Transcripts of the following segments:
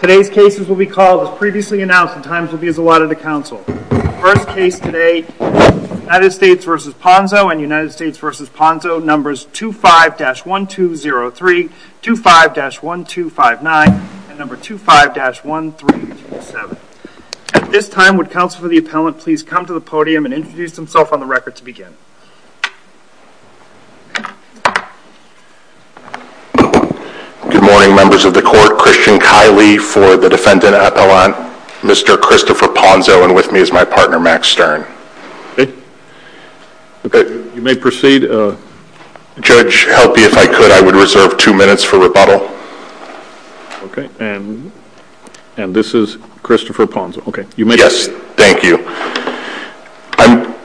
Today's cases will be called as previously announced and times will be as allotted to The first case today, United States v. Ponzo and United States v. Ponzo, numbers 25-1203, 25-1259, and number 25-1327. At this time, would counsel for the appellant please come to the podium and introduce himself on the record to begin. Good morning members of the court, Christian Kiley for the defendant appellant, Mr. Christopher Ponzo and with me is my partner, Max Stern. You may proceed. Judge, help me if I could, I would reserve two minutes for rebuttal. And this is Christopher Ponzo. You may proceed. Yes, thank you. I'm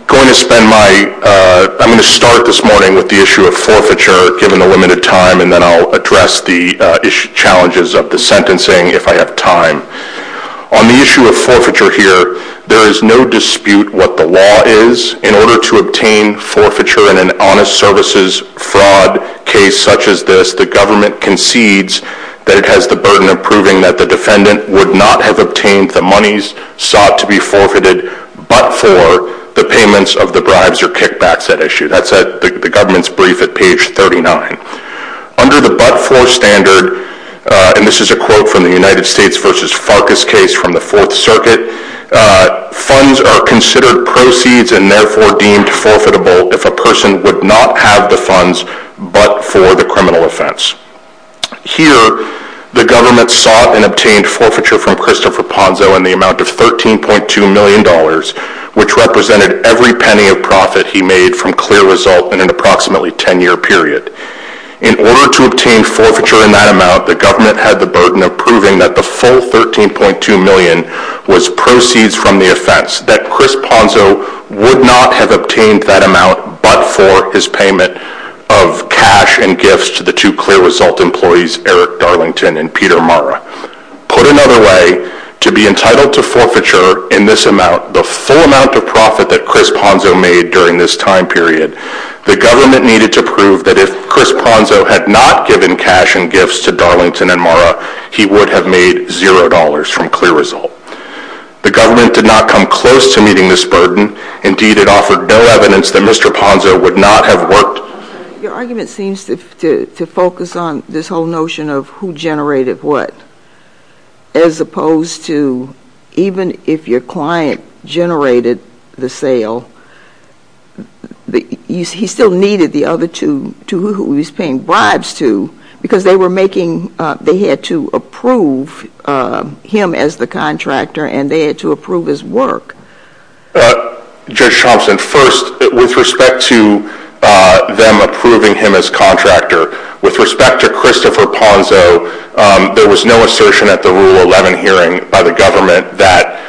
going to start this morning with the issue of forfeiture given the limited time and then I'll address the challenges of the sentencing if I have time. On the issue of forfeiture here, there is no dispute what the law is. In order to obtain forfeiture in an honest services fraud case such as this, the government concedes that it has the burden of proving that the defendant would not have obtained the monies sought to be forfeited but for the payments of the bribes or kickbacks that issue. That's at the government's brief at page 39. Under the but-for standard, and this is a quote from the United States versus Farkas case from the Fourth Circuit, funds are considered proceeds and therefore deemed forfeitable if a person would not have the funds but for the criminal offense. Here, the government sought and obtained forfeiture from Christopher Ponzo in the amount of $13.2 million, which represented every penny of profit he made from clear result in an approximately 10-year period. In order to obtain forfeiture in that amount, the government had the burden of proving that the full $13.2 million was proceeds from the offense, that Chris Ponzo would not have obtained that amount but for his payment of cash and gifts to the two clear result employees, Eric Darlington and Peter Marra. Put another way, to be entitled to forfeiture in this amount, the full amount of profit that Chris Ponzo made during this time period, the government needed to prove that if Chris Ponzo had not given cash and gifts to Darlington and Marra, he would have made $0 from clear result. The government did not come close to meeting this burden, indeed it offered no evidence that Mr. Ponzo would not have worked. Your argument seems to focus on this whole notion of who generated what, as opposed to even if your client generated the sale, he still needed the other two who he was paying and they had to approve his work. Judge Thompson, first, with respect to them approving him as contractor, with respect to Christopher Ponzo, there was no assertion at the Rule 11 hearing by the government that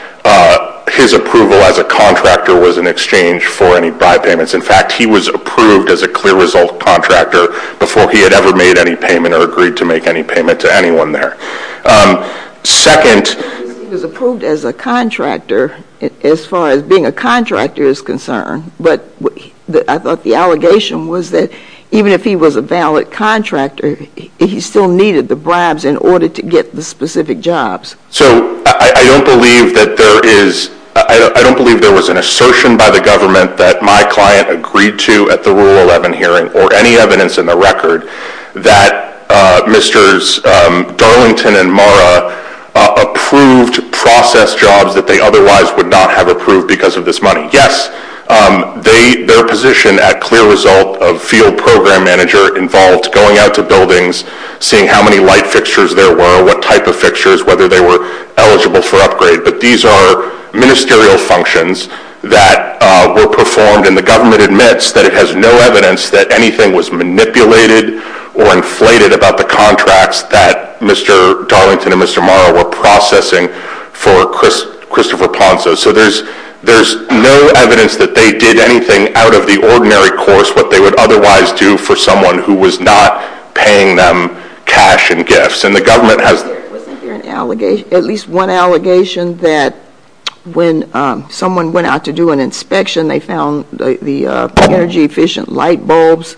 his approval as a contractor was in exchange for any buy payments. In fact, he was approved as a clear result contractor before he had ever made any payment or agreed to make any payment to anyone there. Second... He was approved as a contractor as far as being a contractor is concerned, but I thought the allegation was that even if he was a valid contractor, he still needed the bribes in order to get the specific jobs. So I don't believe that there is, I don't believe there was an assertion by the government that my client agreed to at the Rule 11 hearing or any evidence in the record that Mr. Darlington and Mara approved process jobs that they otherwise would not have approved because of this money. Yes, their position at clear result of field program manager involved going out to buildings, seeing how many light fixtures there were, what type of fixtures, whether they were eligible for upgrade, but these are ministerial functions that were performed and the government admits that it has no evidence that anything was manipulated or inflated about the contracts that Mr. Darlington and Mr. Mara were processing for Christopher Ponzo. So there's no evidence that they did anything out of the ordinary course what they would otherwise do for someone who was not paying them cash and gifts. And the government has... Was there an allegation, at least one allegation that when someone went out to do an inspection they found the energy efficient light bulbs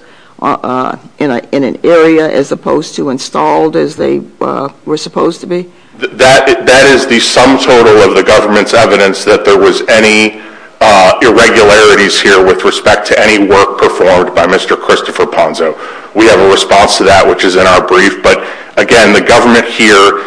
in an area as opposed to installed as they were supposed to be? That is the sum total of the government's evidence that there was any irregularities here with respect to any work performed by Mr. Christopher Ponzo. We have a response to that which is in our brief, but again the government here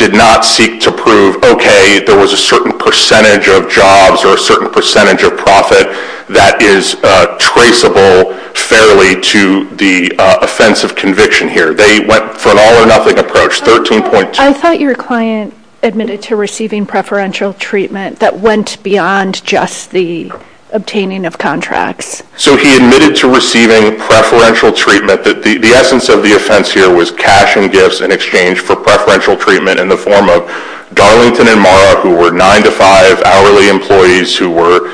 did not seek to prove, okay, there was a certain percentage of jobs or a certain percentage of profit that is traceable fairly to the offense of conviction here. They went for an all or nothing approach, 13.2... I thought your client admitted to receiving preferential treatment that went beyond just the obtaining of contracts. So he admitted to receiving preferential treatment that the essence of the offense here was cash and gifts in exchange for preferential treatment in the form of Darlington and Mara who were nine to five hourly employees who were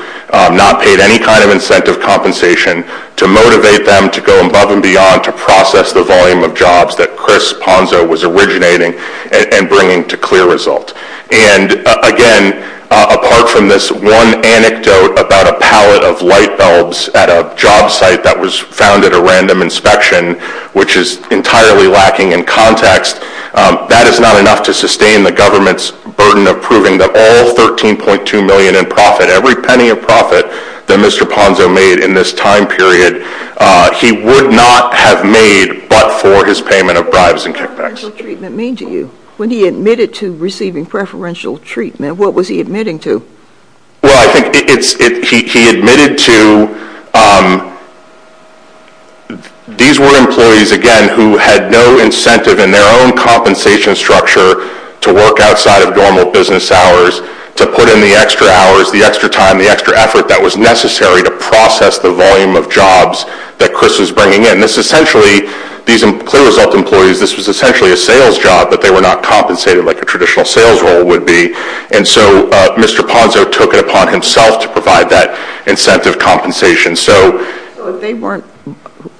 not paid any kind of incentive compensation to motivate them to go above and beyond to process the volume of jobs that Chris Ponzo was originating and bringing to clear result. And again, apart from this one anecdote about a pallet of light bulbs at a job site that was found at a random inspection, which is entirely lacking in context, that is not enough to sustain the government's burden of proving that all 13.2 million in profit, every penny of profit that Mr. Ponzo made in this time period, he would not have made but for his payment of bribes and kickbacks. What does preferential treatment mean to you? When he admitted to receiving preferential treatment, what was he admitting to? Well, I think he admitted to, these were employees, again, who had no incentive in their own compensation structure to work outside of normal business hours, to put in the extra hours, the extra time, the extra effort that was necessary to process the volume of jobs that Chris was bringing in. This essentially, these clear result employees, this was essentially a sales job but they were not compensated like a traditional sales role would be. And so Mr. Ponzo took it upon himself to provide that incentive compensation. So if they weren't,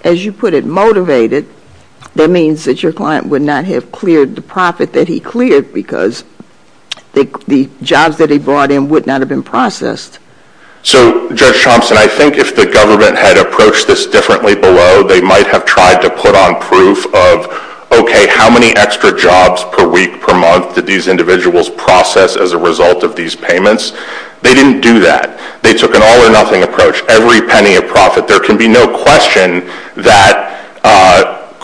as you put it, motivated, that means that your client would not have cleared the profit that he cleared because the jobs that he brought in would not have been processed. So Judge Thompson, I think if the government had approached this differently below, they might have tried to put on proof of, okay, how many extra jobs per week, per month did these individuals process as a result of these payments? They didn't do that. They took an all or nothing approach. Every penny of profit. There can be no question that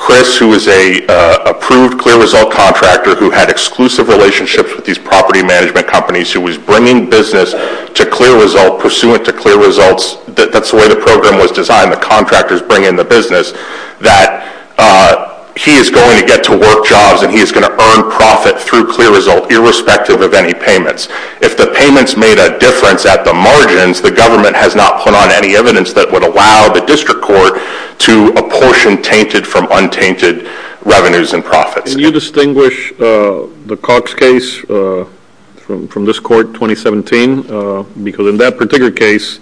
Chris, who is a approved clear result contractor who had exclusive relationships with these property management companies, who was bringing business to clear result, pursuant to clear results, that's the way the program was designed, the contractors bring in the business, that he is going to get to work jobs and he is going to earn profit through clear result irrespective of any payments. If the payments made a difference at the margins, the government has not put on any evidence that would allow the district court to apportion tainted from untainted revenues and profits. Can you distinguish the Cox case from this court 2017? Because in that particular case,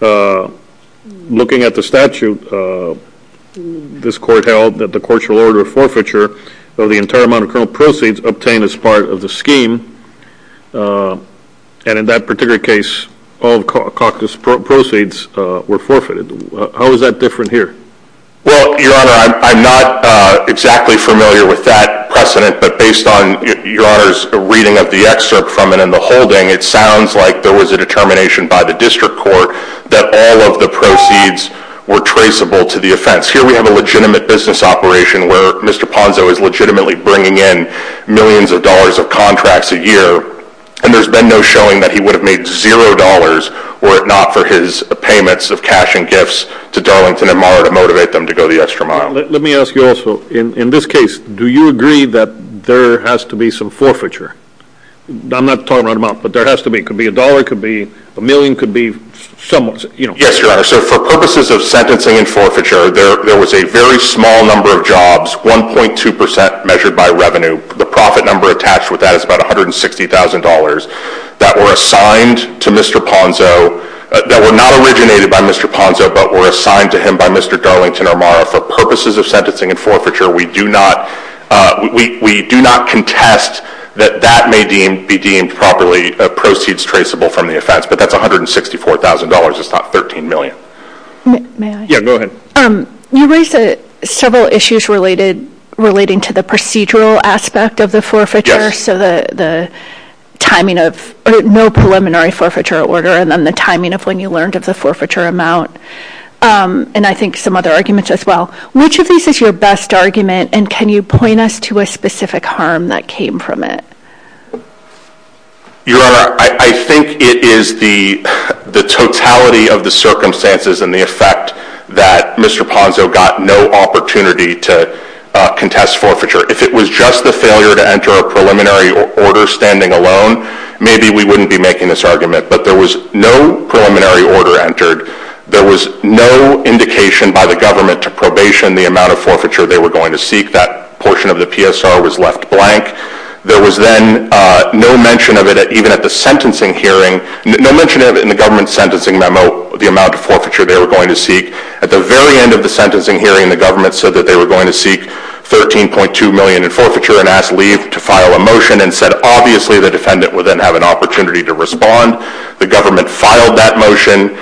looking at the statute, this court held that the court's order of forfeiture of the entire amount of proceeds obtained as part of the scheme, and in that particular case, all of Cox's proceeds were forfeited, how is that different here? Well, your honor, I'm not exactly familiar with that precedent, but based on your honor's reading of the excerpt from it in the holding, it sounds like there was a determination by the district court that all of the proceeds were traceable to the offense. Here we have a legitimate business operation where Mr. Ponzo is legitimately bringing in millions of dollars of contracts a year, and there's been no showing that he would have made zero dollars were it not for his payments of cash and gifts to Darlington and Mara to motivate them to go the extra mile. Let me ask you also, in this case, do you agree that there has to be some forfeiture? I'm not talking right now, but there has to be, it could be a dollar, it could be a million, it could be some... Yes, your honor, so for purposes of sentencing and forfeiture, there was a very small number of jobs, 1.2% measured by revenue, the profit number attached with that is about $160,000 that were assigned to Mr. Ponzo, that were not originated by Mr. Ponzo, but were assigned to him by Mr. Darlington or Mara. For purposes of sentencing and forfeiture, we do not contest that that may be deemed properly proceeds traceable from the offense, but that's $164,000, it's not $13 million. May I? Yeah, go ahead. You raised several issues relating to the procedural aspect of the forfeiture, so the timing of no preliminary forfeiture order, and then the timing of when you learned of the forfeiture amount, and I think some other arguments as well. Which of these is your best argument, and can you point us to a specific harm that came from it? Your honor, I think it is the totality of the circumstances and the effect that Mr. Ponzo got no opportunity to contest forfeiture. If it was just the failure to enter a preliminary order standing alone, maybe we wouldn't be making this argument, but there was no preliminary order entered, there was no indication by the government to probation the amount of forfeiture they were going to seek, that portion of the PSR was left blank, there was then no mention of it even at the sentencing hearing, no mention of it in the government's sentencing memo, the amount of forfeiture they were going to seek. At the very end of the sentencing hearing, the government said that they were going to seek $13.2 million in forfeiture, and asked Lee to file a motion, and said obviously the defendant would then have an opportunity to respond. The government filed that motion,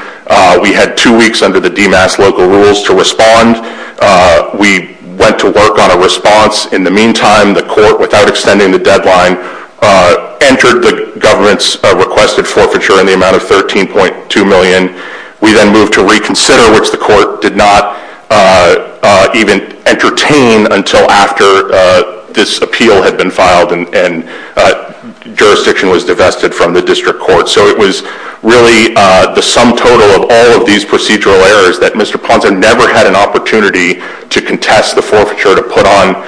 we had two weeks under the DMAS local rules to respond, we went to work on a response, in the meantime the court, without extending the deadline, entered the government's requested forfeiture in the amount of $13.2 million, we then moved to reconsider, which the court did not even entertain until after this appeal had been filed and jurisdiction was divested from the district court. So it was really the sum total of all of these procedural errors that Mr. Ponzo never had an opportunity to contest the forfeiture to put on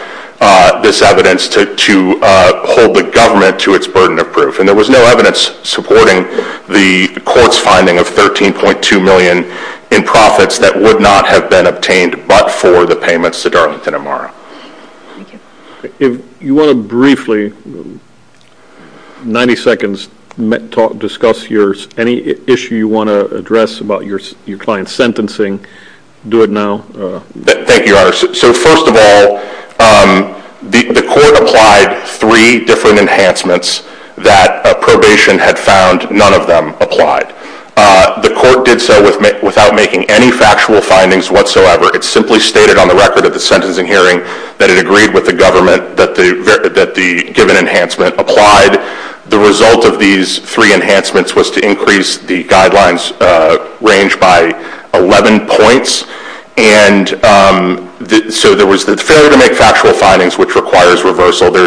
this evidence to hold the government to its burden of proof, and there was no evidence supporting the court's finding of $13.2 million in profits that would not have been obtained but for the payments to Darlington Amaro. If you want to briefly, 90 seconds, discuss any issue you want to address about your client's financial... Thank you, Your Honor. So first of all, the court applied three different enhancements that probation had found none of them applied. The court did so without making any factual findings whatsoever, it simply stated on the record of the sentencing hearing that it agreed with the government that the given enhancement applied. The result of these three enhancements was to increase the guidelines range by 11 points, and so there was the failure to make factual findings, which requires reversal. The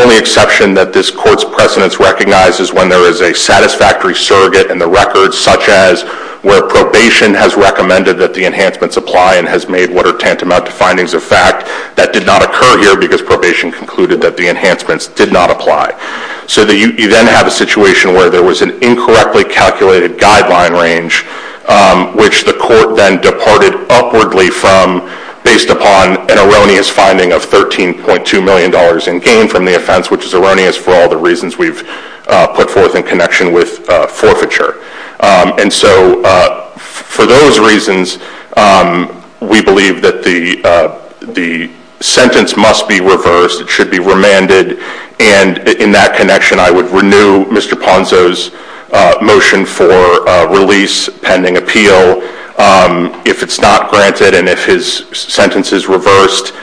only exception that this court's precedence recognizes when there is a satisfactory surrogate in the record, such as where probation has recommended that the enhancements apply and has made what are tantamount to findings of fact, that did not occur here because probation concluded that the enhancements did not apply. So you then have a situation where there was an incorrectly calculated guideline range, which the court then departed upwardly from based upon an erroneous finding of $13.2 million in gain from the offense, which is erroneous for all the reasons we've put forth in connection with forfeiture. And so for those reasons we believe that the sentence must be reversed, it should be remanded, and in that connection I would renew Mr. Ponzo's motion for release pending appeal. If it's not granted and if his sentence is reversed,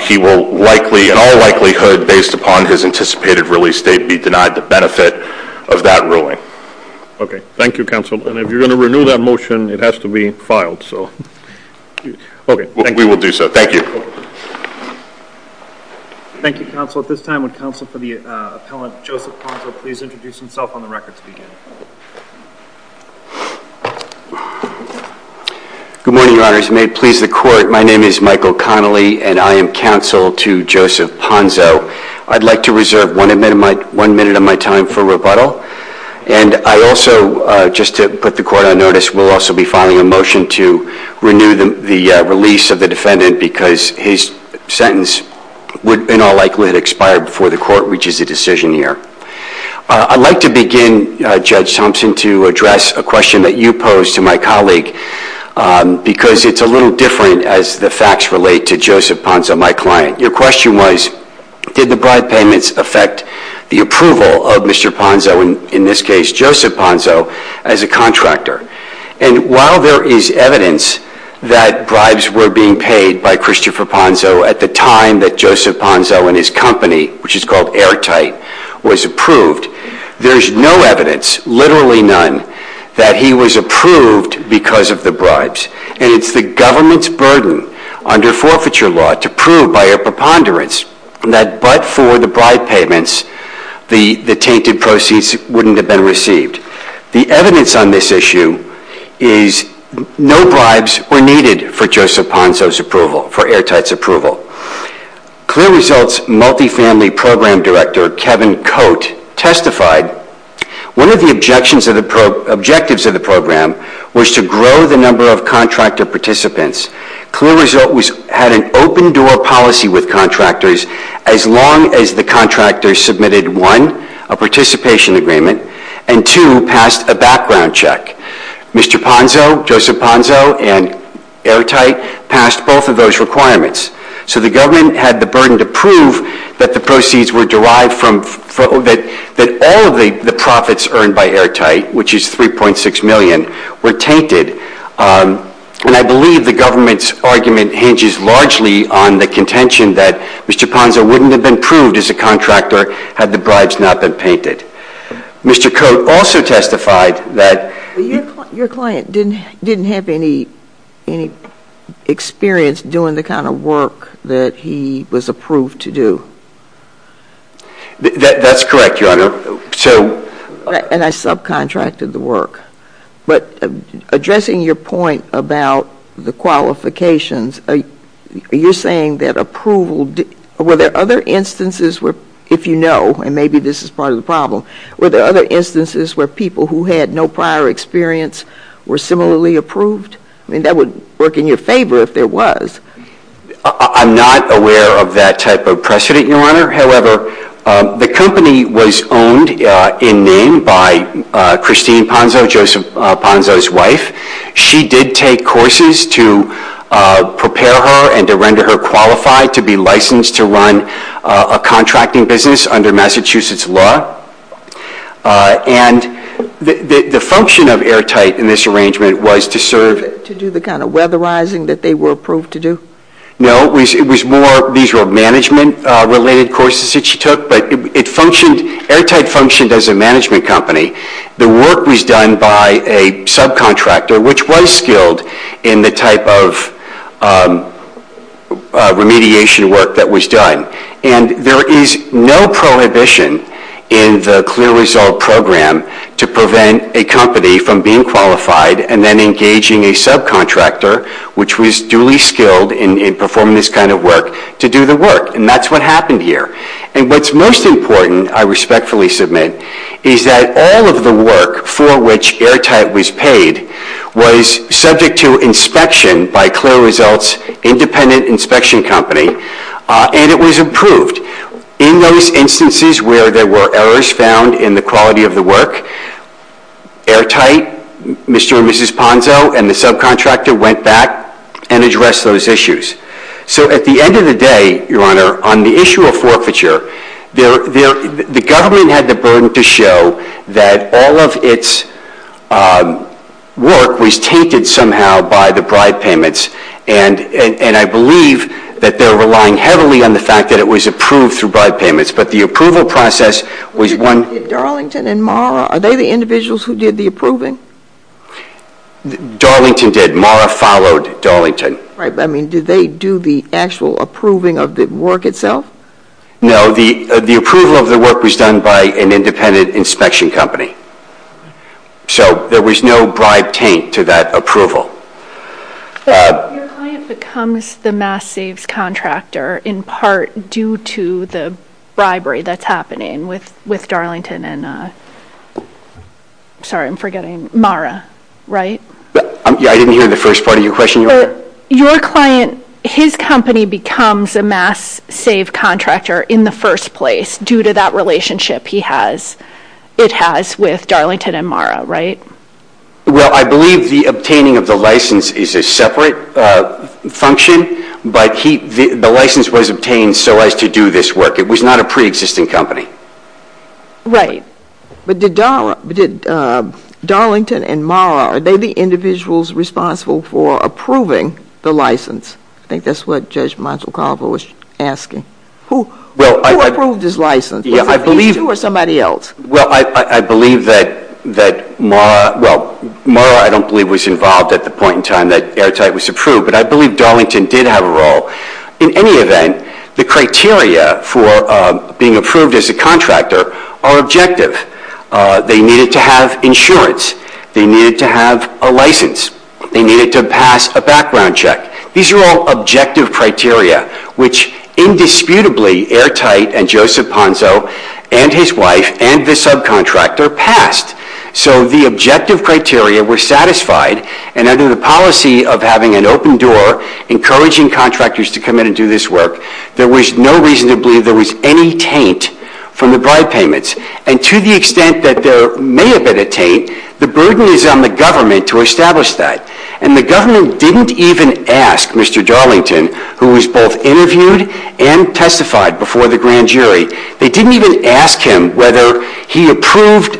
he will likely, in all likelihood based upon his anticipated release date, be denied the benefit of that ruling. Okay. Thank you, Counsel. And if you're going to renew that motion, it has to be filed, so. Okay. Thank you. We will do so. Thank you. Thank you, Counsel. At this time, would Counsel for the Appellant, Joseph Ponzo, please introduce himself on the record to begin. Good morning, Your Honors. May it please the Court, my name is Michael Connolly and I am the Counsel to Joseph Ponzo. I'd like to reserve one minute of my time for rebuttal. And I also, just to put the Court on notice, will also be filing a motion to renew the release of the defendant because his sentence would in all likelihood expire before the Court reaches a decision here. I'd like to begin, Judge Thompson, to address a question that you posed to my colleague because it's a little different as the facts relate to Joseph Ponzo, my client. Your question was, did the bribe payments affect the approval of Mr. Ponzo, in this case, Joseph Ponzo, as a contractor? And while there is evidence that bribes were being paid by Christopher Ponzo at the time that Joseph Ponzo and his company, which is called Airtight, was approved, there's no evidence, literally none, that he was approved because of the bribes. And it's the government's burden under forfeiture law to prove by a preponderance that but for the bribe payments, the tainted proceeds wouldn't have been received. The evidence on this issue is no bribes were needed for Joseph Ponzo's approval, for Airtight's approval. Clear Results Multifamily Program Director Kevin Cote testified, one of the objectives of the program was to grow the number of contractor participants. Clear Result had an open-door policy with contractors as long as the contractor submitted one, a participation agreement, and two, passed a background check. Mr. Ponzo, Joseph Ponzo, and Airtight passed both of those requirements. So the government had the burden to prove that the proceeds were derived from, that all of the profits earned by Airtight, which is $3.6 million, were tainted. And I believe the government's argument hinges largely on the contention that Mr. Ponzo wouldn't have been approved as a contractor had the bribes not been painted. Mr. Cote also testified that... Your client didn't have any experience doing the kind of work that he was approved to do. That's correct, Your Honor. And I subcontracted the work. But addressing your point about the qualifications, you're saying that approval, were there other instances where people who had no prior experience were similarly approved? I mean, that would work in your favor if there was. I'm not aware of that type of precedent, Your Honor. However, the company was owned in name by Christine Ponzo, Joseph Ponzo's wife. She did take courses to prepare her and to render her qualified to be licensed to run a contracting business under Massachusetts law. And the function of Airtight in this arrangement was to serve... To do the kind of weatherizing that they were approved to do? No, it was more, these were management-related courses that she took, but it functioned, Airtight functioned as a management company. The work was done by a subcontractor, which was skilled in the type of remediation work that was done. And there is no prohibition in the clear result program to prevent a company from being qualified and then engaging a subcontractor, which was duly skilled in performing this kind of work, to do the work. And that's what happened here. And what's most important, I respectfully submit, is that all of the work for which Airtight was paid was subject to inspection by Clear Results Independent Inspection Company, and it was approved. In those instances where there were errors found in the quality of the work, Airtight, Mr. and Mrs. Ponzo, and the subcontractor went back and addressed those issues. So at the end of the day, Your Honor, on the issue of forfeiture, the government had the that all of its work was tainted somehow by the bribe payments. And I believe that they're relying heavily on the fact that it was approved through bribe payments. But the approval process was one... Did Darlington and Mara, are they the individuals who did the approving? Darlington did. Mara followed Darlington. Right, but I mean, did they do the actual approving of the work itself? No, the approval of the work was done by an independent inspection company. So there was no bribe taint to that approval. But your client becomes the mass-saves contractor in part due to the bribery that's happening with Darlington and, sorry, I'm forgetting, Mara, right? I didn't hear the first part of your question, Your Honor. Your client, his company becomes a mass-save contractor in the first place due to that relationship it has with Darlington and Mara, right? Well, I believe the obtaining of the license is a separate function, but the license was obtained so as to do this work. It was not a pre-existing company. Right, but did Darlington and Mara, are they the individuals responsible for approving the license? I think that's what Judge Montecalvo was asking. Who approved his license? Was it these two or somebody else? Well, I believe that Mara, well, Mara I don't believe was involved at the point in time that Airtight was approved, but I believe Darlington did have a role. In any event, the criteria for being approved as a contractor are objective. They needed to have insurance. They needed to have a license. They needed to pass a background check. These are all objective criteria, which indisputably Airtight and Joseph Ponzo and his wife and the subcontractor passed. So the objective criteria were satisfied, and under the policy of having an open door encouraging contractors to come in and do this work, there was no reason to believe there was any taint from the bribe payments. And to the extent that there may have been a taint, the burden is on the government to establish that. And the government didn't even ask Mr. Darlington, who was both interviewed and testified before the grand jury, they didn't even ask him whether he approved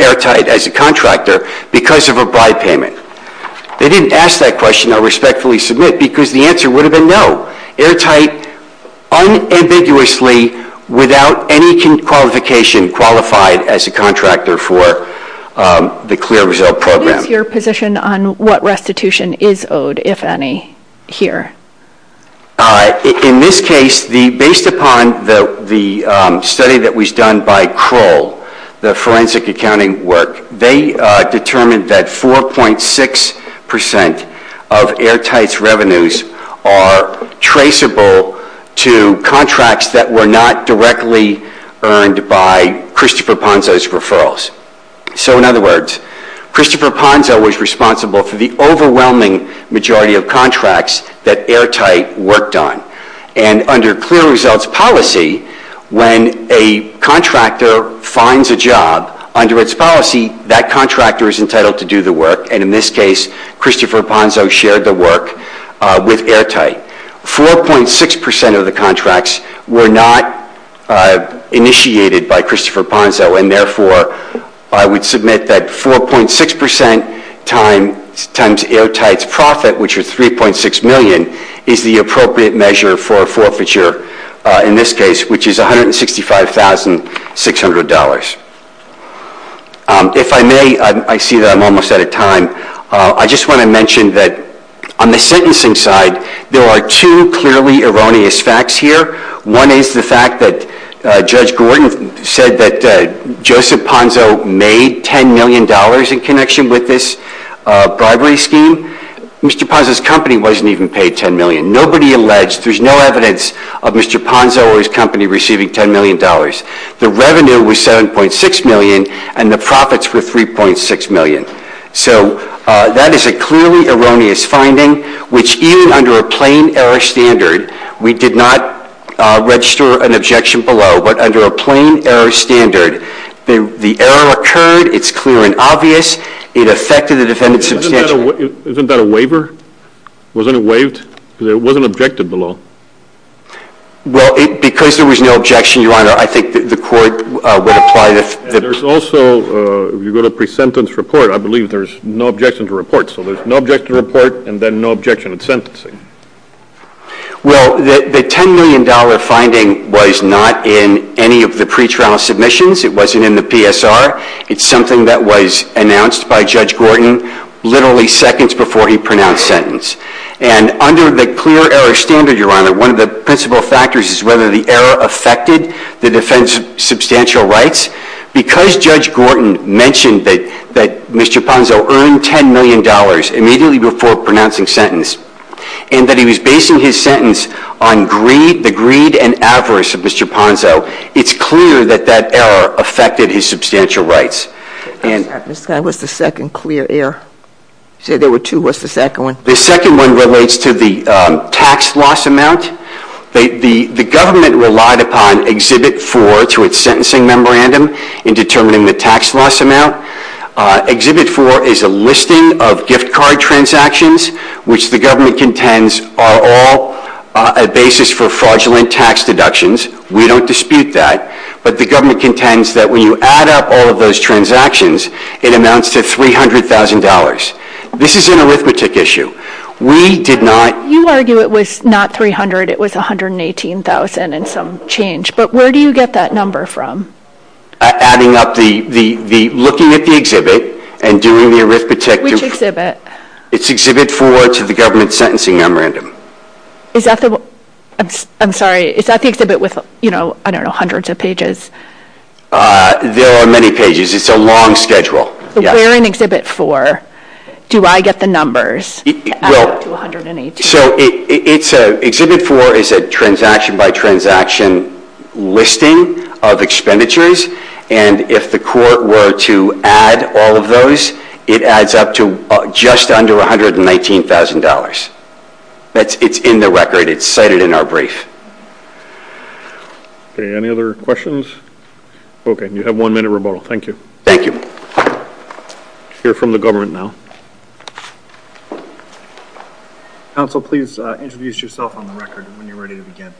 Airtight as a contractor because of a bribe payment. They didn't ask that question, I respectfully submit, because the answer would have been no. Airtight unambiguously without any qualification qualified as a contractor for the clear result program. What is your position on what restitution is owed, if any, here? In this case, based upon the study that was done by Kroll, the forensic accounting work, they determined that 4.6% of Airtight's revenues are traceable to contracts that were not directly earned by Christopher Ponzo's referrals. So in other words, Christopher Ponzo was responsible for the overwhelming majority of contracts that Airtight worked on. And under clear results policy, when a contractor finds a job, under its policy, that contractor is entitled to do the work. And in this case, Christopher Ponzo shared the work with Airtight. 4.6% of the contracts were not initiated by Christopher Ponzo, and therefore, I would submit that 4.6% times Airtight's profit, which is $3.6 million, is the appropriate measure for a forfeiture, in this case, which is $165,600. If I may, I see that I'm almost out of time. I just want to mention that on the sentencing side, there are two clearly erroneous facts here. One is the fact that Judge Gordon said that Joseph Ponzo made $10 million in connection with this bribery scheme. Mr. Ponzo's company wasn't even paid $10 million. Nobody alleged, there's no evidence of Mr. Ponzo or his company receiving $10 million. The revenue was $7.6 million, and the profits were $3.6 million. So that is a clearly erroneous finding, which even under a plain error standard, we did not register an objection below. But under a plain error standard, the error occurred. It's clear and obvious. It affected the defendant substantially. Isn't that a waiver? Wasn't it waived? Because it wasn't objected below. Well, because there was no objection, Your Honor, I think the court would apply the… And there's also, if you go to pre-sentence report, I believe there's no objection to report. So there's no objection to report, and then no objection in sentencing. Well, the $10 million finding was not in any of the pretrial submissions. It wasn't in the PSR. It's something that was announced by Judge Gordon literally seconds before he pronounced sentence. And under the clear error standard, Your Honor, one of the principal factors is whether the error affected the defendant's substantial rights. Because Judge Gordon mentioned that Mr. Ponzo earned $10 million immediately before pronouncing sentence, and that he was basing his sentence on the greed and avarice of Mr. Ponzo, it's clear that that error affected his substantial rights. What's the second clear error? You said there were two. What's the second one? The second one relates to the tax loss amount. The government relied upon Exhibit 4 to its sentencing memorandum in determining the tax loss amount. Exhibit 4 is a listing of gift card transactions, which the government contends are all a basis for fraudulent tax deductions. We don't dispute that. But the government contends that when you add up all of those transactions, it amounts to $300,000. This is an arithmetic issue. We did not… You argue it was not $300,000. It was $118,000 and some change. But where do you get that number from? Adding up the looking at the exhibit and doing the arithmetic… It's Exhibit 4 to the government's sentencing memorandum. Is that the… I'm sorry. Is that the exhibit with, you know, I don't know, hundreds of pages? There are many pages. It's a long schedule. Where in Exhibit 4 do I get the numbers to add up to $118,000? So Exhibit 4 is a transaction-by-transaction listing of expenditures. And if the court were to add all of those, it adds up to just under $119,000. It's in the record. It's cited in our brief. Any other questions? Okay. You have one minute rebuttal. Thank you. Thank you. Hear from the government now. Counsel, please introduce yourself on the record when you're ready to begin.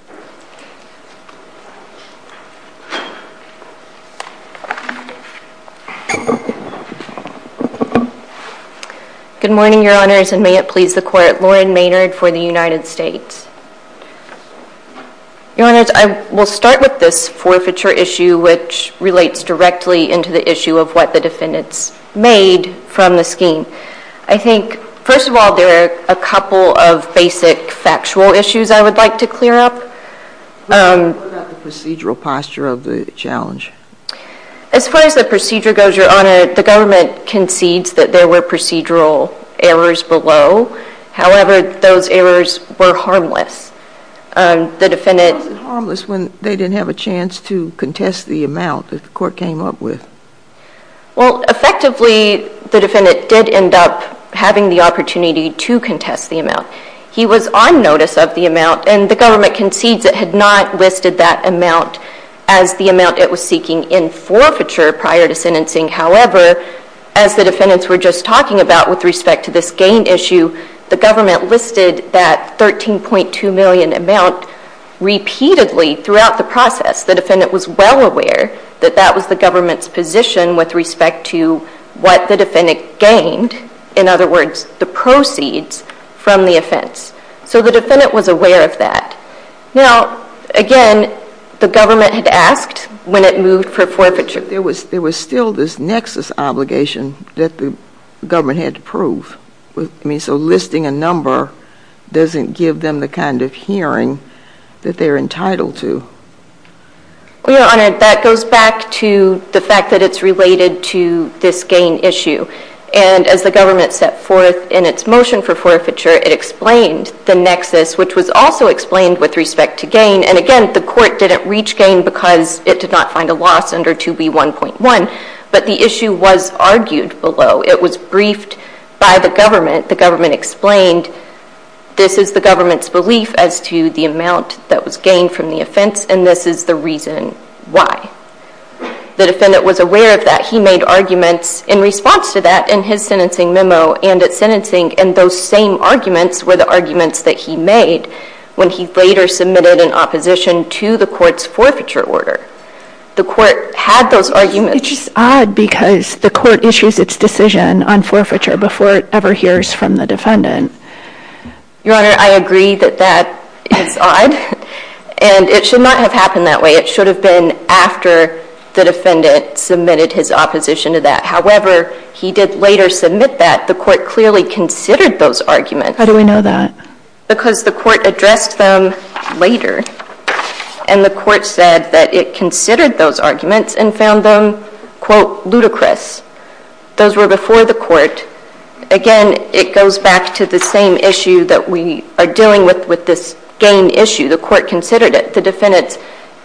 Good morning, Your Honors, and may it please the Court. Lauren Maynard for the United States. Your Honors, I will start with this forfeiture issue, which relates directly into the issue of what the defendants made from the scheme. I think, first of all, there are a couple of basic factual issues I would like to clear up. What about the procedural posture of the challenge? As far as the procedure goes, Your Honor, the government concedes that there were procedural errors below. However, those errors were harmless. The defendant— Why was it harmless when they didn't have a chance to contest the amount that the court came up with? Well, effectively, the defendant did end up having the opportunity to contest the amount. He was on notice of the amount, and the government concedes it had not listed that amount as the amount it was seeking in forfeiture prior to sentencing. However, as the defendants were just talking about with respect to this gain issue, the government listed that $13.2 million amount repeatedly throughout the process. The defendant was well aware that that was the government's position with respect to what the defendant gained, in other words, the proceeds from the offense. So the defendant was aware of that. Now, again, the government had asked when it moved for forfeiture. There was still this nexus obligation that the government had to prove. So listing a number doesn't give them the kind of hearing that they're entitled to. Your Honor, that goes back to the fact that it's related to this gain issue. And as the government set forth in its motion for forfeiture, it explained the nexus, which was also explained with respect to gain. And again, the court didn't reach gain because it did not find a loss under 2B1.1, but the issue was argued below. It was briefed by the government. The government explained this is the government's belief as to the amount that was gained from the offense, and this is the reason why. The defendant was aware of that. He made arguments in response to that in his sentencing memo and at sentencing, and those same arguments were the arguments that he made when he later submitted in opposition to the court's forfeiture order. The court had those arguments. It's just odd because the court issues its decision on forfeiture before it ever hears from the defendant. Your Honor, I agree that that is odd. And it should not have happened that way. It should have been after the defendant submitted his opposition to that. However, he did later submit that. The court clearly considered those arguments. How do we know that? Because the court addressed them later, and the court said that it considered those arguments and found them, quote, ludicrous. Those were before the court. Again, it goes back to the same issue that we are dealing with with this gain issue. The court considered it. The defendants,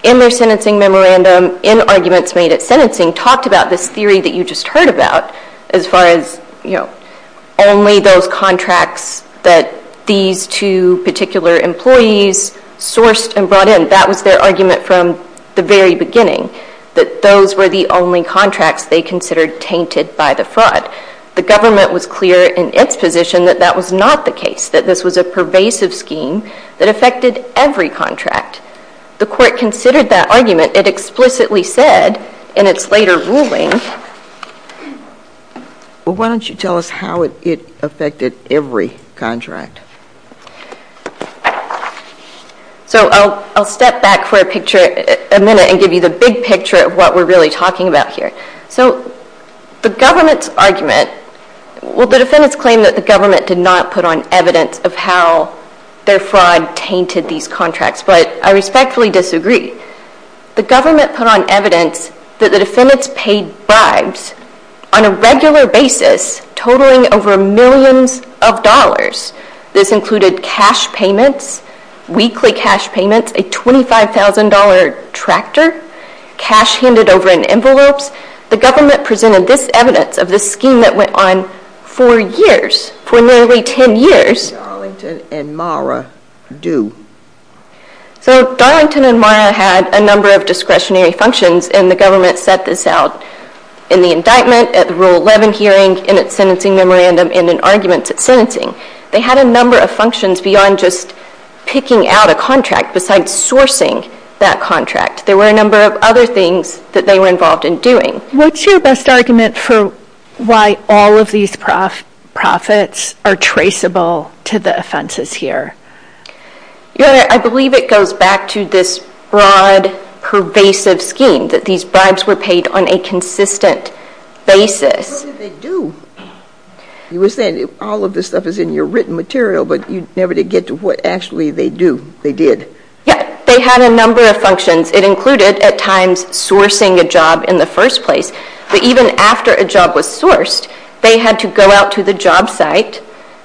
in their sentencing memorandum, in arguments made at sentencing, talked about this theory that you just heard about as far as, you know, only those contracts that these two particular employees sourced and brought in. That was their argument from the very beginning, that those were the only contracts they considered tainted by the fraud. The government was clear in its position that that was not the case, that this was a pervasive scheme that affected every contract. The court considered that argument. It explicitly said in its later ruling. Well, why don't you tell us how it affected every contract? So I'll step back for a picture, a minute, and give you the big picture of what we're really talking about here. So the government's argument. Well, the defendants claim that the government did not put on evidence of how their fraud tainted these contracts, but I respectfully disagree. The government put on evidence that the defendants paid bribes on a regular basis, totaling over millions of dollars. This included cash payments, weekly cash payments, a $25,000 tractor, cash handed over in envelopes. The government presented this evidence of the scheme that went on for years, for nearly ten years. What did Darlington and Mara do? So Darlington and Mara had a number of discretionary functions, and the government set this out in the indictment, at the Rule 11 hearing, in its sentencing memorandum, and in arguments at sentencing. They had a number of functions beyond just picking out a contract, besides sourcing that contract. There were a number of other things that they were involved in doing. What's your best argument for why all of these profits are traceable to the offenses here? Your Honor, I believe it goes back to this broad, pervasive scheme, that these bribes were paid on a consistent basis. What did they do? You were saying all of this stuff is in your written material, but you never did get to what actually they do, they did. Yeah, they had a number of functions. It included, at times, sourcing a job in the first place. But even after a job was sourced, they had to go out to the job site,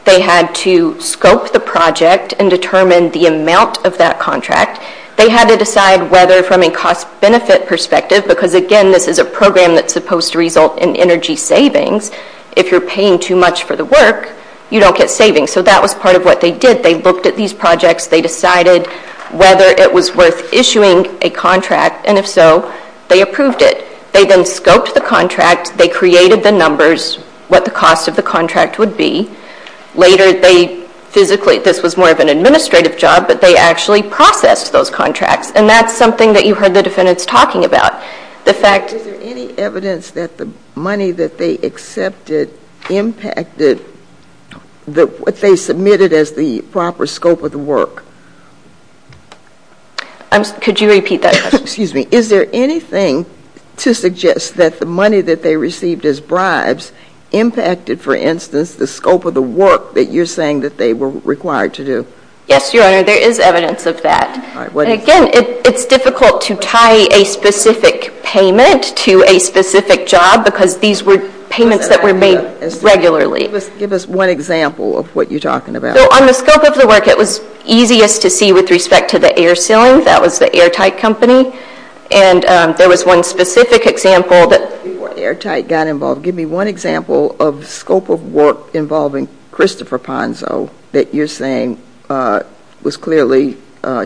they had to scope the project and determine the amount of that contract. They had to decide whether, from a cost-benefit perspective, because, again, this is a program that's supposed to result in energy savings, if you're paying too much for the work, you don't get savings. So that was part of what they did. They looked at these projects, they decided whether it was worth issuing a contract, and if so, they approved it. They then scoped the contract, they created the numbers, what the cost of the contract would be. Later, they physically, this was more of an administrative job, but they actually processed those contracts, and that's something that you heard the defendants talking about. Is there any evidence that the money that they accepted impacted what they submitted as the proper scope of the work? Could you repeat that question? Excuse me. Is there anything to suggest that the money that they received as bribes impacted, for instance, the scope of the work that you're saying that they were required to do? Yes, Your Honor, there is evidence of that. Again, it's difficult to tie a specific payment to a specific job because these were payments that were made regularly. Give us one example of what you're talking about. On the scope of the work, it was easiest to see with respect to the air sealing. That was the Airtight Company, and there was one specific example that Before Airtight got involved, give me one example of scope of work involving Christopher Ponzo that you're saying was clearly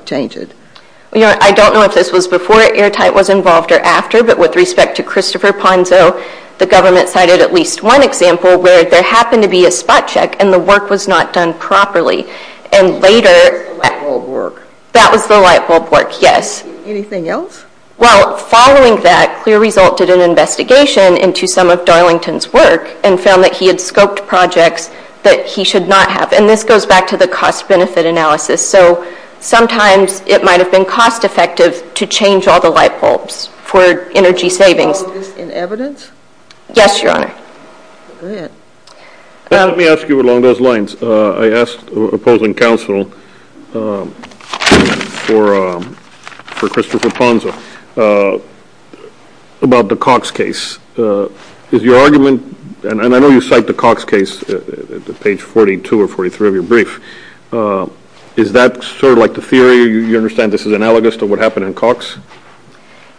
changed. Your Honor, I don't know if this was before Airtight was involved or after, but with respect to Christopher Ponzo, the government cited at least one example where there happened to be a spot check and the work was not done properly. That was the light bulb work? That was the light bulb work, yes. Anything else? Following that, Clear Result did an investigation into some of Darlington's work and found that he had scoped projects that he should not have. This goes back to the cost-benefit analysis. So sometimes it might have been cost-effective to change all the light bulbs for energy savings. Was this in evidence? Yes, Your Honor. Let me ask you along those lines. I asked opposing counsel for Christopher Ponzo about the Cox case. Is your argument, and I know you cite the Cox case at page 42 or 43 of your brief, is that sort of like the theory, you understand this is analogous to what happened in Cox?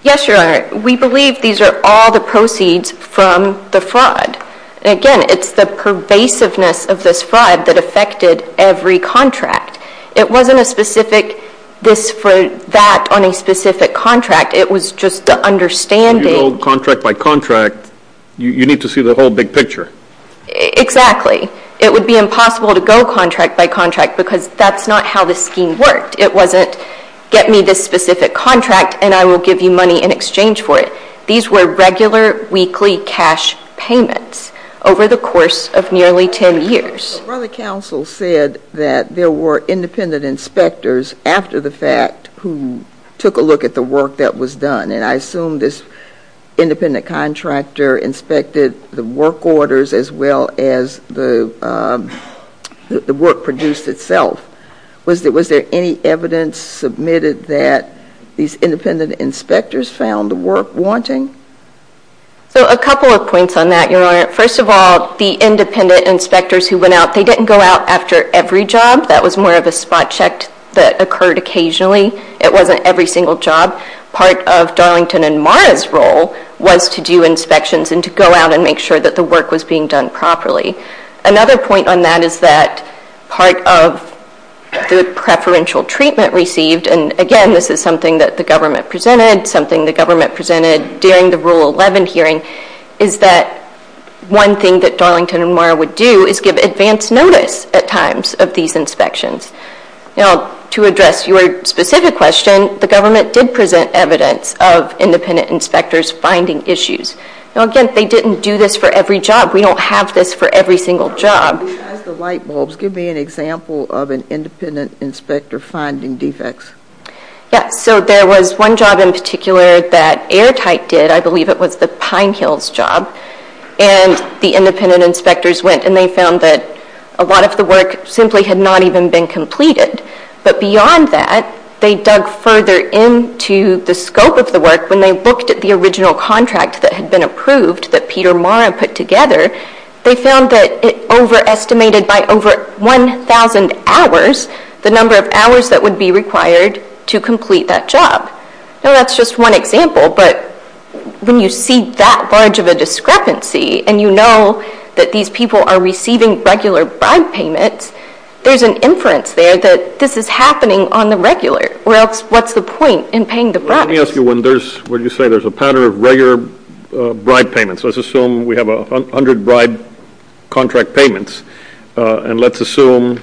Yes, Your Honor. We believe these are all the proceeds from the fraud. Again, it's the pervasiveness of this fraud that affected every contract. It wasn't a specific this for that on a specific contract. It was just the understanding. If you go contract by contract, you need to see the whole big picture. Exactly. It would be impossible to go contract by contract because that's not how the scheme worked. It wasn't get me this specific contract and I will give you money in exchange for it. These were regular weekly cash payments over the course of nearly 10 years. The brother counsel said that there were independent inspectors after the fact who took a look at the work that was done. I assume this independent contractor inspected the work orders as well as the work produced itself. Was there any evidence submitted that these independent inspectors found the work wanting? A couple of points on that, Your Honor. First of all, the independent inspectors who went out, they didn't go out after every job. That was more of a spot check that occurred occasionally. It wasn't every single job. Part of Darlington and Mara's role was to do inspections and to go out and make sure that the work was being done properly. Another point on that is that part of the preferential treatment received, and again this is something that the government presented, something the government presented during the Rule 11 hearing, is that one thing that Darlington and Mara would do is give advance notice at times of these inspections. To address your specific question, the government did present evidence of independent inspectors finding issues. Again, they didn't do this for every job. We don't have this for every single job. Besides the light bulbs, give me an example of an independent inspector finding defects. There was one job in particular that Airtight did. I believe it was the Pine Hills job. The independent inspectors went and they found that a lot of the work simply had not even been completed. But beyond that, they dug further into the scope of the work. When they looked at the original contract that had been approved that Peter Mara put together, they found that it overestimated by over 1,000 hours the number of hours that would be required to complete that job. That's just one example, but when you see that large of a discrepancy and you know that these people are receiving regular bribe payments, there's an inference there that this is happening on the regular, or else what's the point in paying the bribes? Let me ask you, when you say there's a pattern of regular bribe payments, let's assume we have 100 bribe contract payments, and let's assume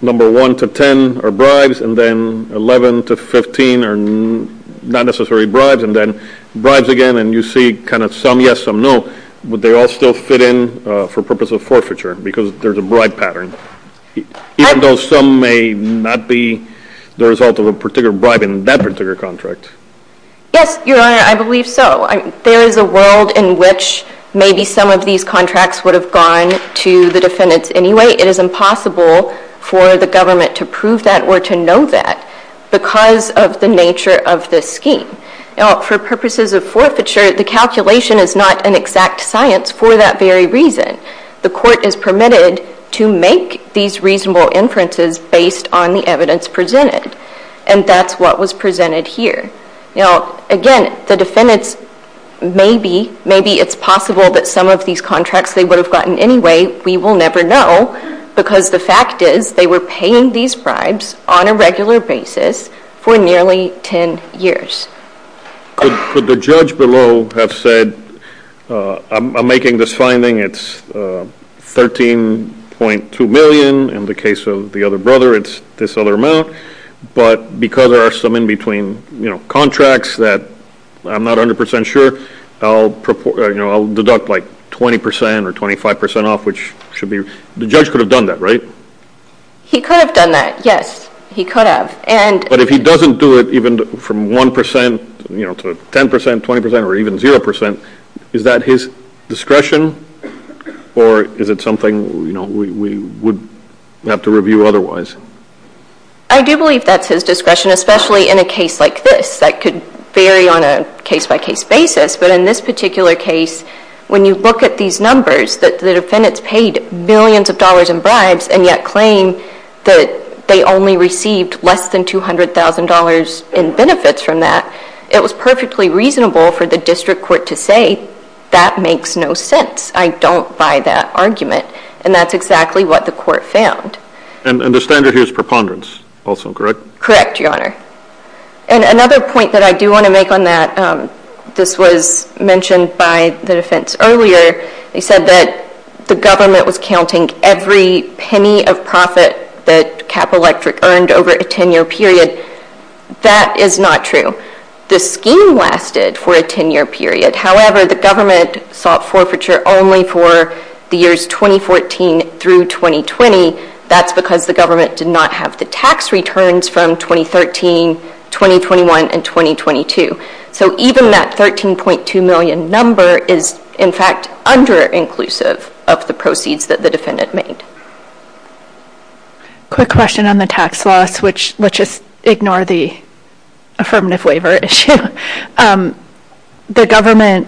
number 1 to 10 are bribes, and then 11 to 15 are not necessary bribes, and then bribes again, and you see kind of some yes, some no. Would they all still fit in for purpose of forfeiture because there's a bribe pattern, even though some may not be the result of a particular bribe in that particular contract? Yes, Your Honor, I believe so. There is a world in which maybe some of these contracts would have gone to the defendants anyway. It is impossible for the government to prove that or to know that because of the nature of this scheme. Now, for purposes of forfeiture, the calculation is not an exact science for that very reason. The court is permitted to make these reasonable inferences based on the evidence presented, and that's what was presented here. Now, again, the defendants, maybe, maybe it's possible that some of these contracts they would have gotten anyway, we will never know, because the fact is they were paying these bribes on a regular basis for nearly 10 years. Could the judge below have said, I'm making this finding, it's 13.2 million. In the case of the other brother, it's this other amount, but because there are some in between contracts that I'm not 100% sure, I'll deduct like 20% or 25% off, which should be. The judge could have done that, right? He could have done that, yes, he could have. But if he doesn't do it, even from 1% to 10%, 20%, or even 0%, is that his discretion or is it something we would have to review otherwise? I do believe that's his discretion, especially in a case like this that could vary on a case-by-case basis, but in this particular case, when you look at these numbers, the defendants paid millions of dollars in bribes and yet claim that they only received less than $200,000 in benefits from that. It was perfectly reasonable for the district court to say that makes no sense. I don't buy that argument, and that's exactly what the court found. And the standard here is preponderance also, correct? Correct, Your Honor. And another point that I do want to make on that, this was mentioned by the defense earlier, they said that the government was counting every penny of profit that Cap Electric earned over a 10-year period. That is not true. The scheme lasted for a 10-year period. However, the government sought forfeiture only for the years 2014 through 2020. That's because the government did not have the tax returns from 2013, 2021, and 2022. So even that $13.2 million number is, in fact, under-inclusive of the proceeds that the defendant made. Quick question on the tax loss, which let's just ignore the affirmative waiver issue. The government,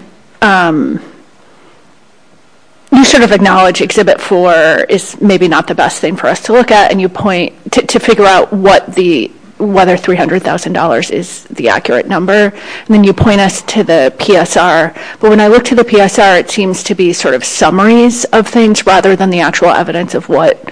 you sort of acknowledge Exhibit 4 is maybe not the best thing for us to look at, and you point to figure out whether $300,000 is the accurate number, and then you point us to the PSR. But when I look to the PSR, it seems to be sort of summaries of things rather than the actual evidence of what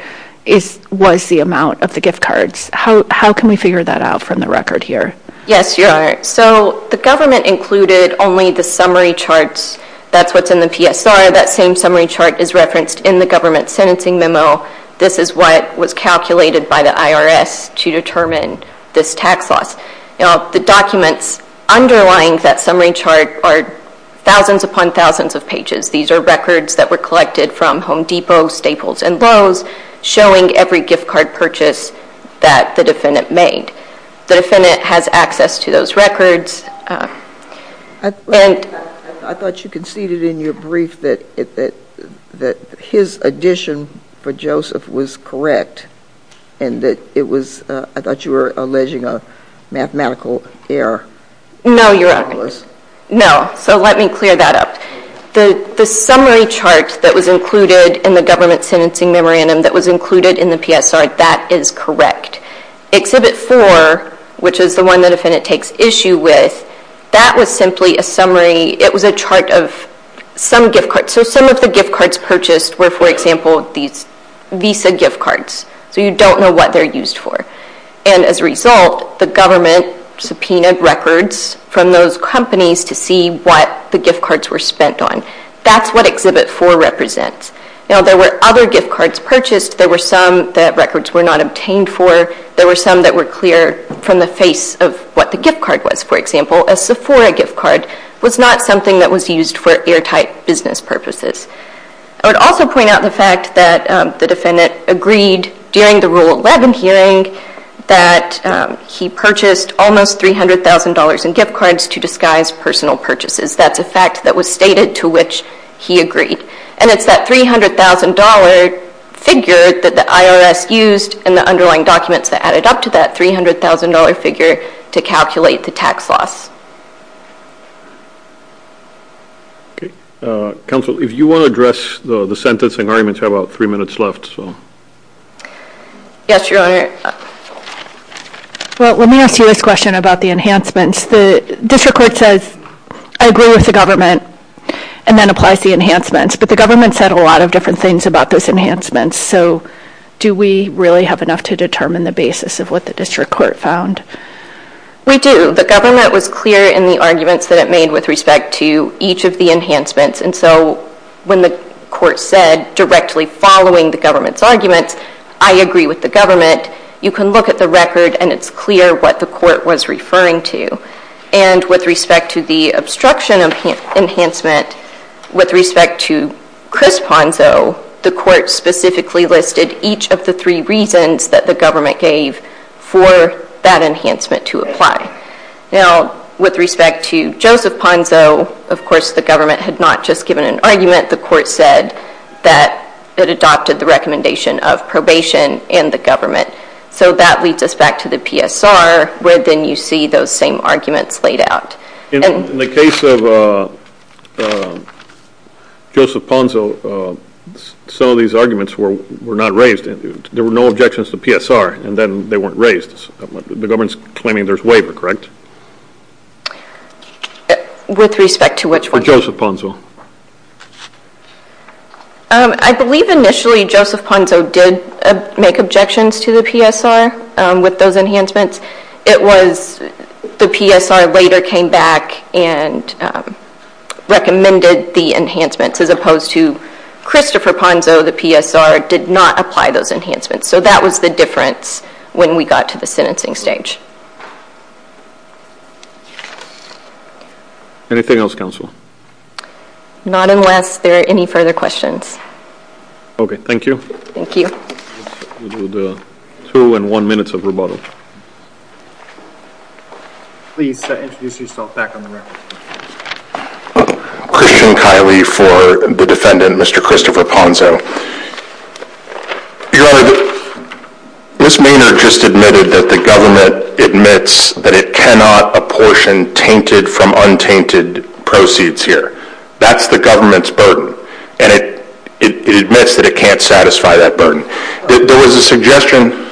was the amount of the gift cards. How can we figure that out from the record here? Yes, Your Honor. So the government included only the summary charts. That's what's in the PSR. That same summary chart is referenced in the government sentencing memo. This is what was calculated by the IRS to determine this tax loss. The documents underlying that summary chart are thousands upon thousands of pages. These are records that were collected from Home Depot, Staples, and Lowe's showing every gift card purchase that the defendant made. The defendant has access to those records. I thought you conceded in your brief that his addition for Joseph was correct and that it was, I thought you were alleging a mathematical error. No, Your Honor. It was. No. So let me clear that up. The summary chart that was included in the government sentencing memorandum that was included in the PSR, that is correct. Exhibit 4, which is the one the defendant takes issue with, that was simply a summary. It was a chart of some gift cards. So some of the gift cards purchased were, for example, these Visa gift cards. So you don't know what they're used for. As a result, the government subpoenaed records from those companies to see what the gift cards were spent on. That's what Exhibit 4 represents. There were other gift cards purchased. There were some that records were not obtained for. There were some that were clear from the face of what the gift card was. For example, a Sephora gift card was not something that was used for airtight business purposes. I would also point out the fact that the defendant agreed during the Rule 11 hearing that he purchased almost $300,000 in gift cards to disguise personal purchases. That's a fact that was stated to which he agreed. And it's that $300,000 figure that the IRS used and the underlying documents that added up to that $300,000 figure to calculate the tax loss. Okay. Counsel, if you want to address the sentencing arguments, you have about three minutes left. Yes, Your Honor. Well, let me ask you this question about the enhancements. The district court says, I agree with the government, and then applies the enhancements. But the government said a lot of different things about those enhancements. So do we really have enough to determine the basis of what the district court found? We do. The government was clear in the arguments that it made with respect to each of the enhancements. And so when the court said, directly following the government's arguments, I agree with the government, you can look at the record and it's clear what the court was referring to. And with respect to the obstruction enhancement, with respect to Chris Ponzo, the court specifically listed each of the three reasons that the government gave for that enhancement to apply. Now, with respect to Joseph Ponzo, of course the government had not just given an argument. The court said that it adopted the recommendation of probation and the government. So that leads us back to the PSR, where then you see those same arguments laid out. In the case of Joseph Ponzo, some of these arguments were not raised. There were no objections to PSR, and then they weren't raised. The government's claiming there's waiver, correct? With respect to which one? Joseph Ponzo. Anything else, counsel? I believe initially Joseph Ponzo did make objections to the PSR with those enhancements. It was the PSR later came back and recommended the enhancements, as opposed to Christopher Ponzo, the PSR, did not apply those enhancements. So that was the difference when we got to the sentencing stage. Anything else, counsel? Not unless there are any further questions. Okay, thank you. Thank you. We'll do the two and one minutes of rebuttal. Please introduce yourself back on the record. Christian Kiley for the defendant, Mr. Christopher Ponzo. Your Honor, Ms. Maynard just admitted that the government admits that it cannot apportion tainted from untainted proceeds here. That's the government's burden, and it admits that it can't satisfy that burden. There was a suggestion.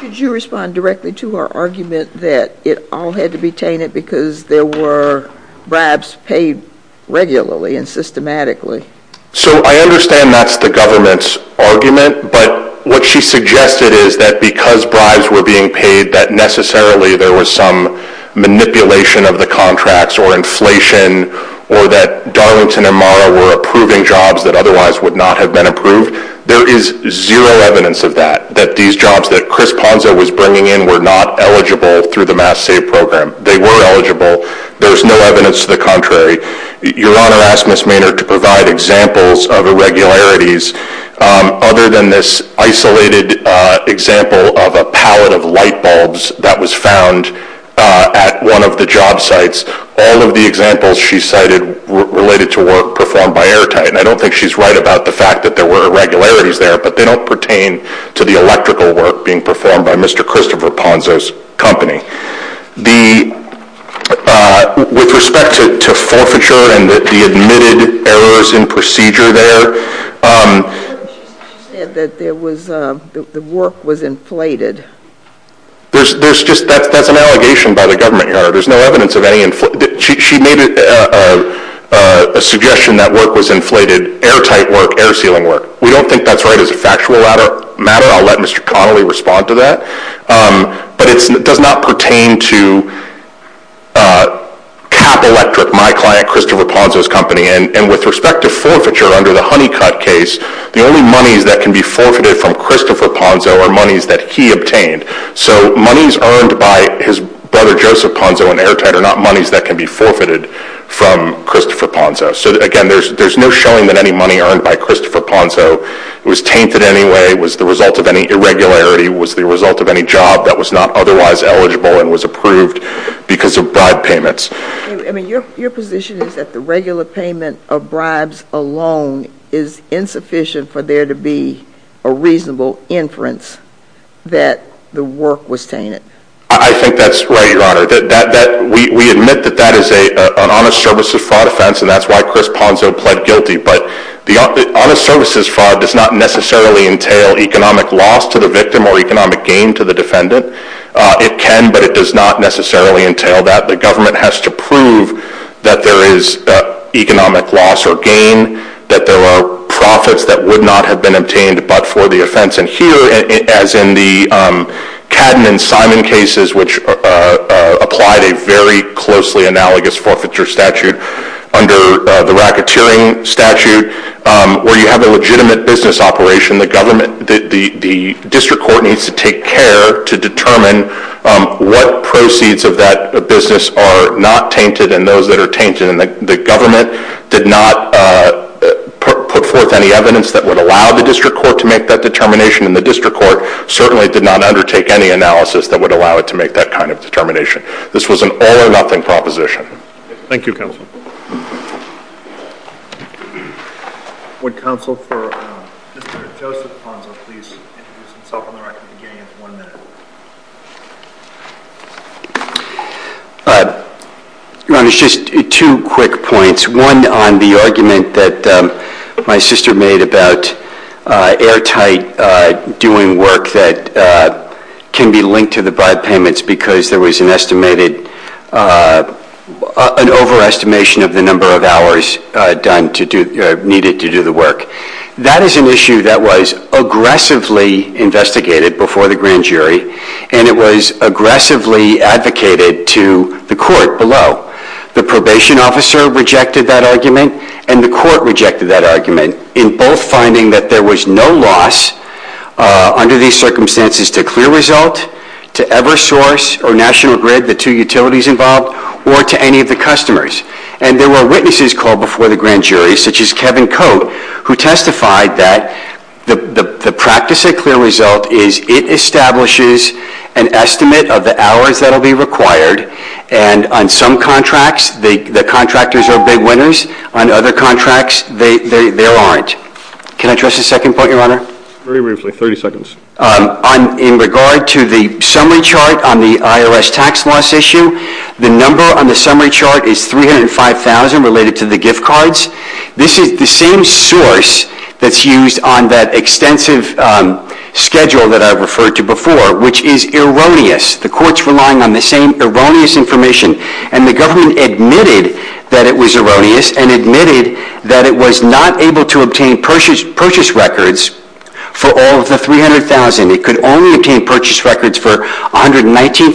Could you respond directly to her argument that it all had to be tainted because there were bribes paid regularly and systematically? So I understand that's the government's argument, but what she suggested is that because bribes were being paid, that necessarily there was some manipulation of the contracts or inflation or that Darlington and Mara were approving jobs that otherwise would not have been approved. There is zero evidence of that, that these jobs that Chris Ponzo was bringing in were not eligible through the Mass Save program. They were eligible. There's no evidence to the contrary. Your Honor asked Ms. Maynard to provide examples of irregularities other than this isolated example of a pallet of light bulbs that was found at one of the job sites. All of the examples she cited were related to work performed by airtight, and I don't think she's right about the fact that there were irregularities there, but they don't pertain to the electrical work being performed by Mr. Christopher Ponzo's company. With respect to forfeiture and the admitted errors in procedure there... She said that the work was inflated. That's an allegation by the government, Your Honor. There's no evidence of any inflated... She made a suggestion that work was inflated, airtight work, air sealing work. We don't think that's right as a factual matter. I'll let Mr. Connolly respond to that. It does not pertain to Cap Electric, my client Christopher Ponzo's company. With respect to forfeiture under the Honeycutt case, the only monies that can be forfeited from Christopher Ponzo are monies that he obtained. Monies earned by his brother Joseph Ponzo in airtight are not monies that can be forfeited from Christopher Ponzo. Again, there's no showing that any money earned by Christopher Ponzo was tainted in any way, was the result of any irregularity, was the result of any job that was not otherwise eligible and was approved because of bribe payments. Your position is that the regular payment of bribes alone is insufficient for there to be a reasonable inference that the work was tainted. I think that's right, Your Honor. We admit that that is an honest services fraud offense and that's why Chris Ponzo pled guilty. But the honest services fraud does not necessarily entail economic loss to the victim or economic gain to the defendant. It can, but it does not necessarily entail that. The government has to prove that there is economic loss or gain, that there are profits that would not have been obtained but for the offense. And here, as in the Cadman-Simon cases, which applied a very closely analogous forfeiture statute under the racketeering statute, where you have a legitimate business operation, the district court needs to take care to determine what proceeds of that business are not tainted and those that are tainted. The government did not put forth any evidence that would allow the district court to make that determination and the district court certainly did not undertake any analysis that would allow it to make that kind of determination. This was an all-or-nothing proposition. Thank you, Counsel. Would Counsel for Mr. Joseph Ponzo please introduce himself and the record beginning in one minute? Just two quick points. One on the argument that my sister made about airtight doing work that can be linked to the bribe payments because there was an overestimation of the number of hours needed to do the work. That is an issue that was aggressively investigated before the grand jury and it was aggressively advocated to the court below. The probation officer rejected that argument and the court rejected that argument in both finding that there was no loss under these circumstances to Clear Result, to Eversource or National Grid, the two utilities involved, or to any of the customers. And there were witnesses called before the grand jury, such as Kevin Cote, who testified that the practice at Clear Result is it establishes an estimate of the hours that will be required and on some contracts the contractors are big winners, on other contracts they aren't. Can I address the second point, Your Honor? Very briefly, 30 seconds. In regard to the summary chart on the IRS tax loss issue, the number on the summary chart is 305,000 related to the gift cards. This is the same source that's used on that extensive schedule that I referred to before, which is erroneous. The court's relying on the same erroneous information and the government admitted that it was erroneous and admitted that it was not able to obtain purchase records for all of the 300,000. It could only obtain purchase records for 119,000.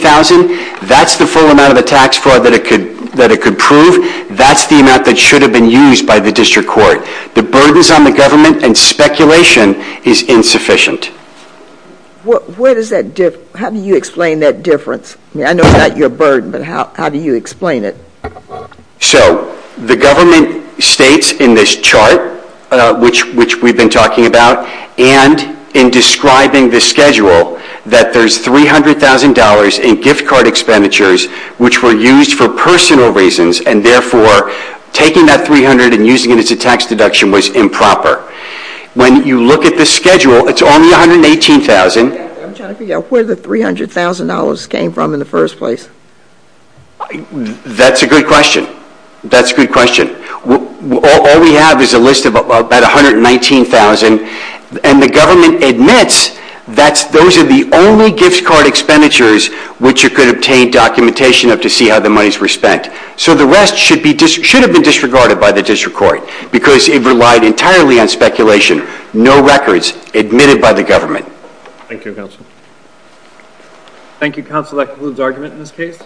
That's the full amount of the tax fraud that it could prove. That's the amount that should have been used by the district court. The burdens on the government and speculation is insufficient. How do you explain that difference? I know it's not your burden, but how do you explain it? So the government states in this chart, which we've been talking about, and in describing the schedule that there's $300,000 in gift card expenditures which were used for personal reasons and therefore taking that $300,000 and using it as a tax deduction was improper. When you look at the schedule, it's only 118,000. I'm trying to figure out where the $300,000 came from in the first place. That's a good question. That's a good question. All we have is a list of about 119,000, and the government admits that those are the only gift card expenditures which it could obtain documentation of to see how the monies were spent. So the rest should have been disregarded by the district court because it relied entirely on speculation. No records admitted by the government. Thank you, Counsel. Thank you, Counsel. That concludes argument in this case.